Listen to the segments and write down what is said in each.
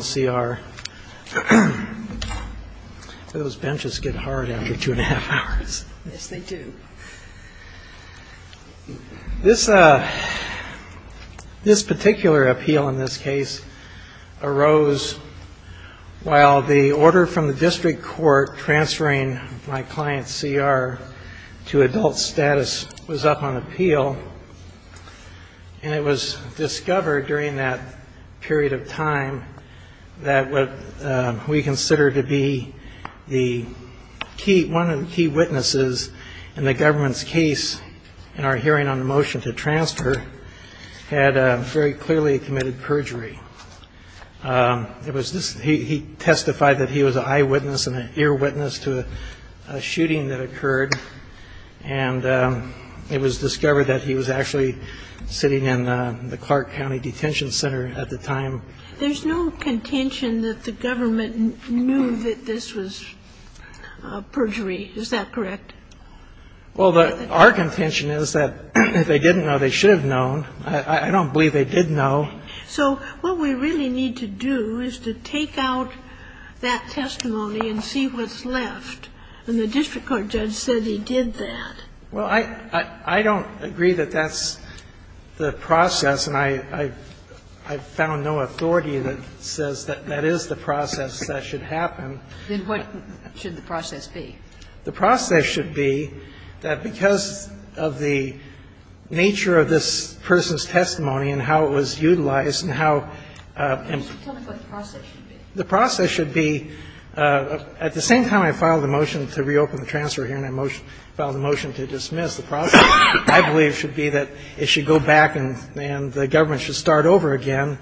CR. Those benches get hard after two-and-a-half hours. Yes, they do. This particular appeal in this case arose while the order from the district court transferring my client's CR to adult status was up on appeal. And it was discovered during that period of time that what we consider to be one of the key witnesses in the government's case in our hearing on the motion to transfer had very clearly committed perjury. He testified that he was an eyewitness and an earwitness to a shooting that occurred, and it was discovered that he was actually sitting in the Clark County Detention Center at the time. There's no contention that the government knew that this was perjury. Is that correct? Well, our contention is that if they didn't know, they should have known. I don't believe they did know. So what we really need to do is to take out that testimony and see what's left. And the district court judge said he did that. Well, I don't agree that that's the process, and I've found no authority that says that that is the process that should happen. Then what should the process be? The process should be that because of the nature of this person's testimony and how it was utilized and how the process should be. At the same time I filed a motion to reopen the transfer hearing, I filed a motion to dismiss the process. I believe it should be that it should go back and the government should start over again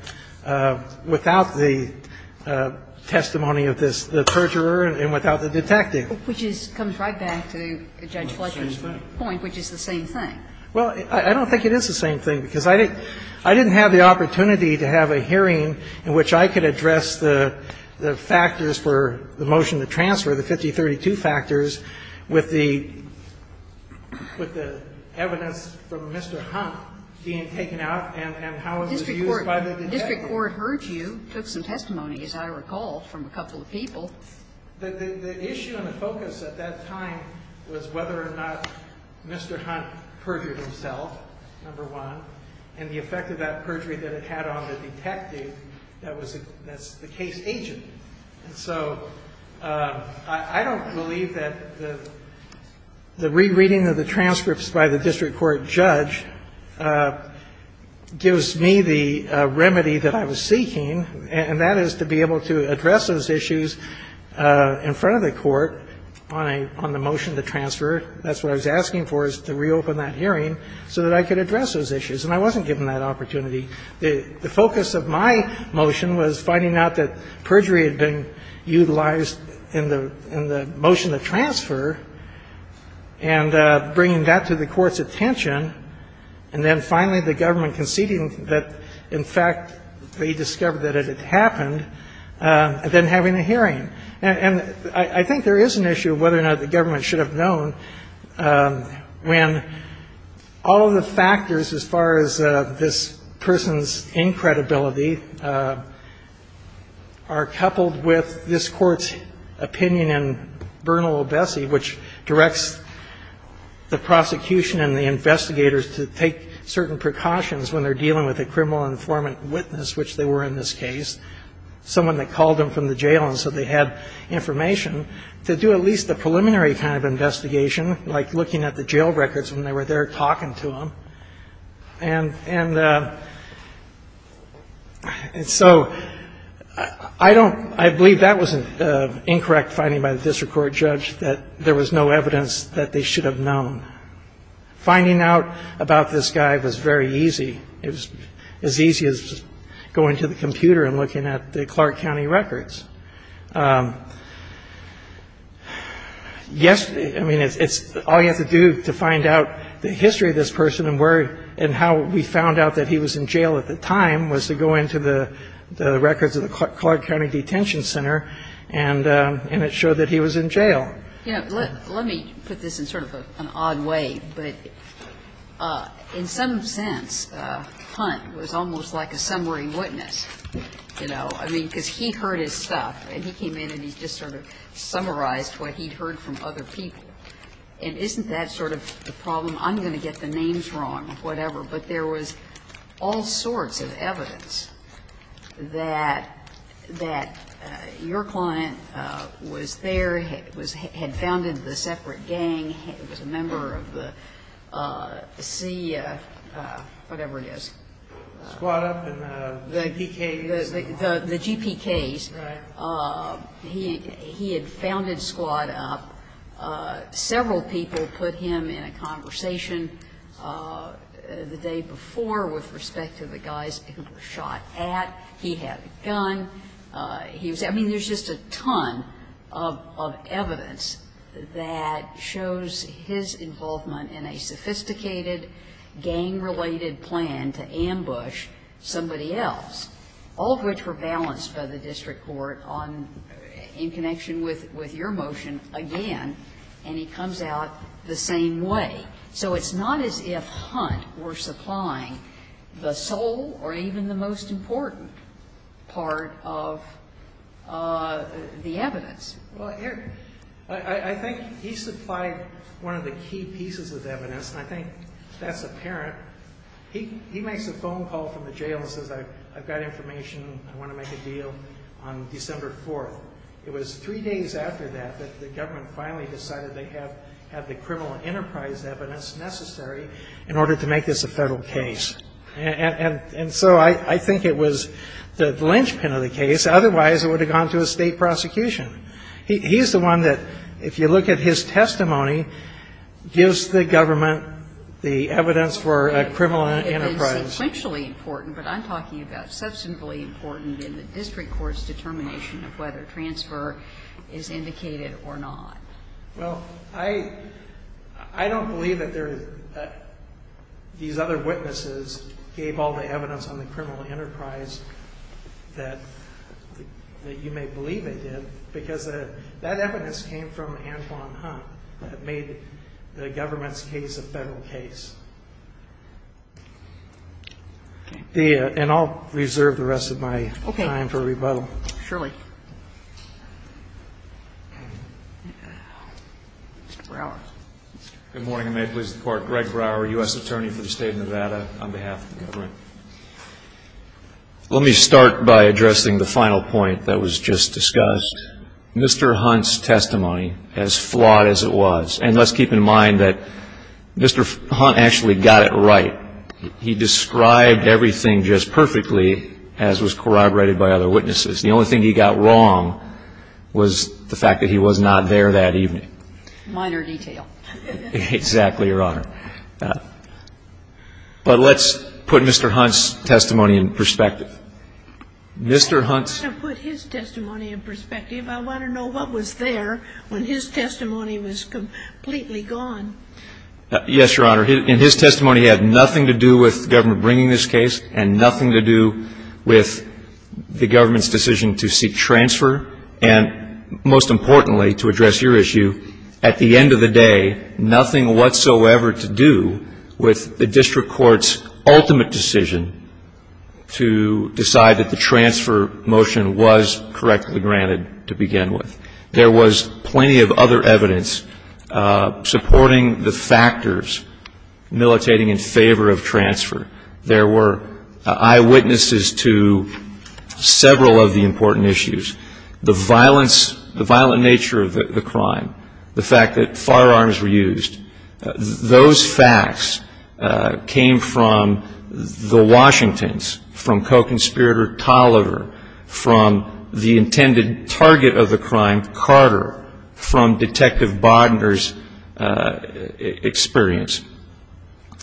without the testimony of the perjurer and without the detective. Which comes right back to Judge Fletcher's point, which is the same thing. Well, I don't think it is the same thing, because I didn't have the opportunity to have a hearing in which I could address the factors for the motion to transfer, the 5032 factors, with the evidence from Mr. Hunt being taken out and how it was used by the detective. The district court heard you, took some testimony, as I recall, from a couple of people. The issue and the focus at that time was whether or not Mr. Hunt perjured himself, number one. And the effect of that perjury that it had on the detective, that's the case agent. And so I don't believe that the rereading of the transcripts by the district court judge gives me the remedy that I was seeking, and that is to be able to address those issues in front of the court on the motion to transfer. That's what I was asking for, is to reopen that hearing so that I could address those issues. And I wasn't given that opportunity. The focus of my motion was finding out that perjury had been utilized in the motion to transfer and bringing that to the court's attention, and then finally the government conceding that, in fact, they discovered that it had happened, and then having a hearing. And I think there is an issue of whether or not the government should have known when all of the factors as far as this person's incredibility are coupled with this court's opinion in Bernal-Obesi, which directs the prosecution and the investigators to take certain precautions when they're dealing with a criminal informant witness, which they were in this case, someone that called them from the jail and said they had information, to do at least a preliminary kind of investigation, like looking at the jail records when they were there talking to them. And so I don't ‑‑ I believe that was an incorrect finding by the district court judge, that there was no evidence that they should have known. Finding out about this guy was very easy. It was as easy as going to the computer and looking at the Clark County records. I mean, it's all you have to do to find out the history of this person and where and how we found out that he was in jail at the time was to go into the records of the Clark County Detention Center, and it showed that he was in jail. Yeah. Let me put this in sort of an odd way. But in some sense, Hunt was almost like a summary witness, you know. I mean, because he heard his stuff, and he came in and he just sort of summarized what he'd heard from other people. And isn't that sort of the problem? I'm going to get the names wrong, whatever. But there was all sorts of evidence that your client was there, had founded the separate gang, was a member of the C‑‑ whatever it is. Squad Up and the GPKs. The GPKs. Right. He had founded Squad Up. Several people put him in a conversation the day before with respect to the guys who were shot at. He had a gun. He was ‑‑ I mean, there's just a ton of evidence that shows his involvement in a sophisticated gang-related plan to ambush somebody else, all of which were balanced by the district court on ‑‑ in connection with your motion again. And he comes out the same way. So it's not as if Hunt were supplying the sole or even the most important part of the evidence. Well, I think he supplied one of the key pieces of evidence, and I think that's apparent. He makes a phone call from the jail and says, I've got information. I want to make a deal on December 4th. It was three days after that that the government finally decided they have the criminal enterprise evidence necessary in order to make this a federal case. And so I think it was the linchpin of the case. Otherwise, it would have gone to a state prosecution. He's the one that, if you look at his testimony, gives the government the evidence for a criminal enterprise. It's sequentially important, but I'm talking about substantively important in the district court's determination of whether transfer is indicated or not. Well, I don't believe that these other witnesses gave all the evidence on the criminal enterprise that you may believe they did, because that evidence came from Antwon Hunt that made the government's case a federal case. And I'll reserve the rest of my time for rebuttal. Okay. Surely. Mr. Brower. Good morning, and may it please the Court. Greg Brower, U.S. Attorney for the State of Nevada, on behalf of the government. Let me start by addressing the final point that was just discussed. Mr. Hunt's testimony, as flawed as it was. And let's keep in mind that Mr. Hunt actually got it right. He described everything just perfectly, as was corroborated by other witnesses. The only thing he got wrong was the fact that he was not there that evening. Minor detail. Exactly, Your Honor. But let's put Mr. Hunt's testimony in perspective. Mr. Hunt's. I want to put his testimony in perspective. I want to know what was there when his testimony was completely gone. Yes, Your Honor. In his testimony, he had nothing to do with the government bringing this case and nothing to do with the government's decision to seek transfer. And most importantly, to address your issue, at the end of the day, nothing whatsoever to do with the district court's ultimate decision to decide that the transfer motion was correctly granted to begin with. There was plenty of other evidence supporting the factors militating in favor of transfer. There were eyewitnesses to several of the important issues. The violence, the violent nature of the crime. The fact that firearms were used. Those facts came from the Washingtons, from co-conspirator Tolliver, from the intended target of the crime, Carter, from Detective Bodner's experience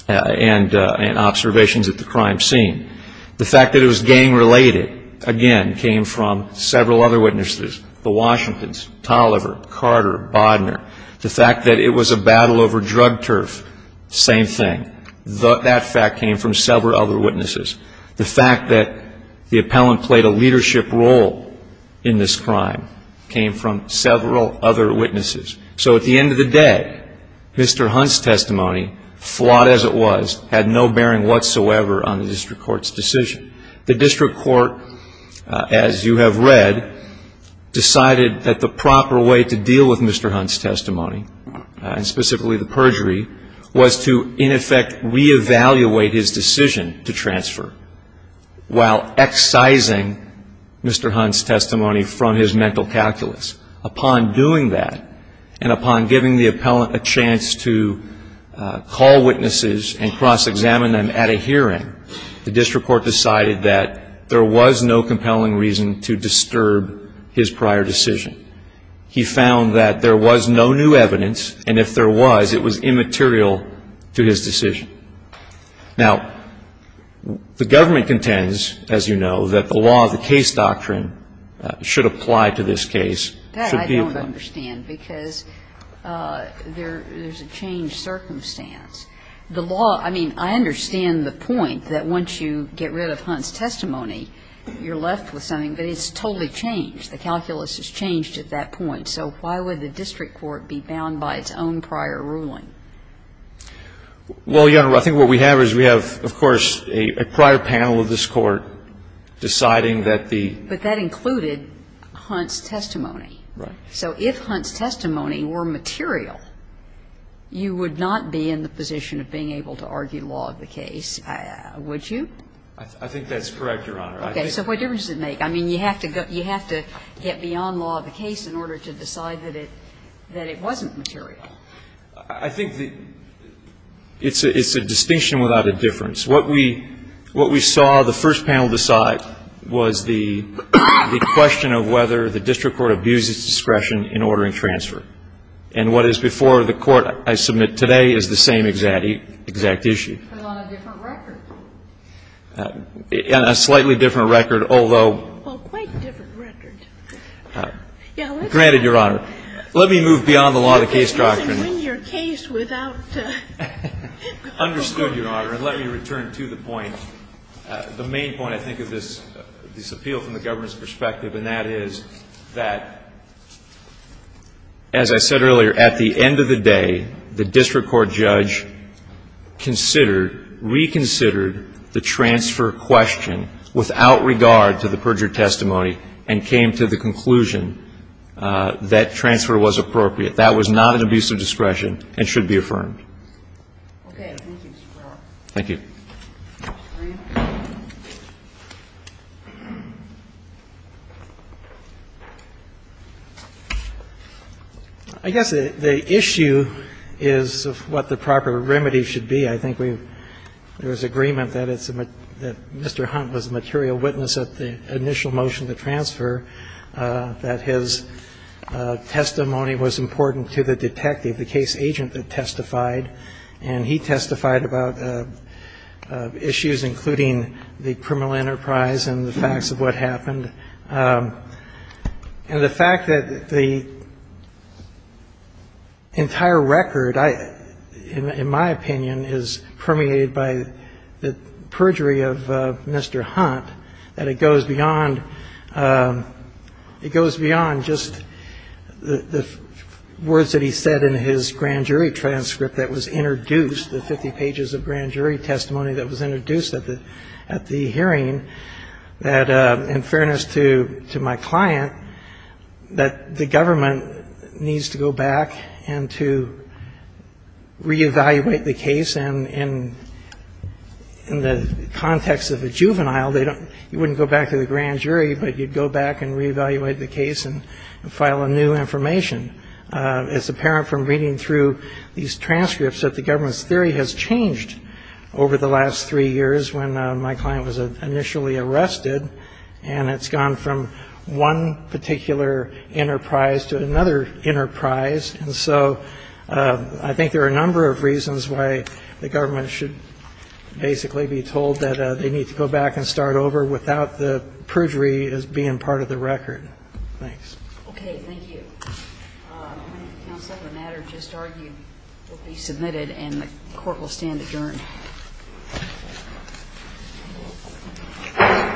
and observations at the crime scene. The fact that it was gang-related, again, came from several other witnesses, the Washingtons, Tolliver, Carter, Bodner. The fact that it was a battle over drug turf, same thing. That fact came from several other witnesses. The fact that the appellant played a leadership role in this crime came from several other witnesses. So at the end of the day, Mr. Hunt's testimony, flawed as it was, had no bearing whatsoever on the district court's decision. The district court, as you have read, decided that the proper way to deal with Mr. Hunt's testimony, and specifically the perjury, was to in effect reevaluate his decision to transfer while excising Mr. Hunt's testimony from his mental calculus. Upon doing that and upon giving the appellant a chance to call witnesses and cross-examine them at a hearing, the district court decided that there was no compelling reason to disturb his prior decision. He found that there was no new evidence, and if there was, it was immaterial to his decision. Now, the government contends, as you know, that the law, the case doctrine, should apply to this case. Sotomayor. That I don't understand because there's a changed circumstance. The law, I mean, I understand the point that once you get rid of Hunt's testimony, you're left with something, but it's totally changed. The calculus has changed at that point. So why would the district court be bound by its own prior ruling? Well, Your Honor, I think what we have is we have, of course, a prior panel of this Court deciding that the ---- But that included Hunt's testimony. Right. So if Hunt's testimony were material, you would not be in the position of being able to argue law of the case, would you? I think that's correct, Your Honor. Okay. So what difference does it make? I mean, you have to get beyond law of the case in order to decide that it wasn't material. I think it's a distinction without a difference. What we saw the first panel decide was the question of whether the district court abuses discretion in ordering transfer. And what is before the Court, I submit today, is the same exact issue. But on a different record. On a slightly different record, although ---- Well, quite different record. Yeah, let's ---- Granted, Your Honor. Let me move beyond the law of the case doctrine. You can win your case without ---- Understood, Your Honor. And let me return to the point, the main point, I think, of this appeal from the district court, that, as I said earlier, at the end of the day, the district court judge considered, reconsidered the transfer question without regard to the perjured testimony and came to the conclusion that transfer was appropriate. That was not an abuse of discretion and should be affirmed. Okay. Thank you, Mr. Carroll. Thank you. I guess the issue is of what the proper remedy should be. I think we've ---- there was agreement that Mr. Hunt was a material witness at the initial motion to transfer, that his testimony was important to the detective, the case agent that testified. And he testified about issues including the criminal enterprise and the facts of what happened. And the fact that the entire record, in my opinion, is permeated by the perjury of Mr. Hunt, that it goes beyond just the words that he said in his grand jury transcript that was introduced, the 50 pages of grand jury testimony that was introduced at the hearing, that, in fairness to my client, that the government needs to go back and to reevaluate the case. And in the context of a juvenile, they don't ---- you wouldn't go back to the grand jury, but you'd go back and reevaluate the case and file a new information. It's apparent from reading through these transcripts that the government's theory has changed over the last three years when my client was initially arrested, and it's gone from one particular enterprise to another enterprise. And so I think there are a number of reasons why the government should basically be told that they need to go back and start over without the perjury as being part of the record. Thanks. Okay. Thank you. Counsel, the matter just argued will be submitted and the court will stand adjourned.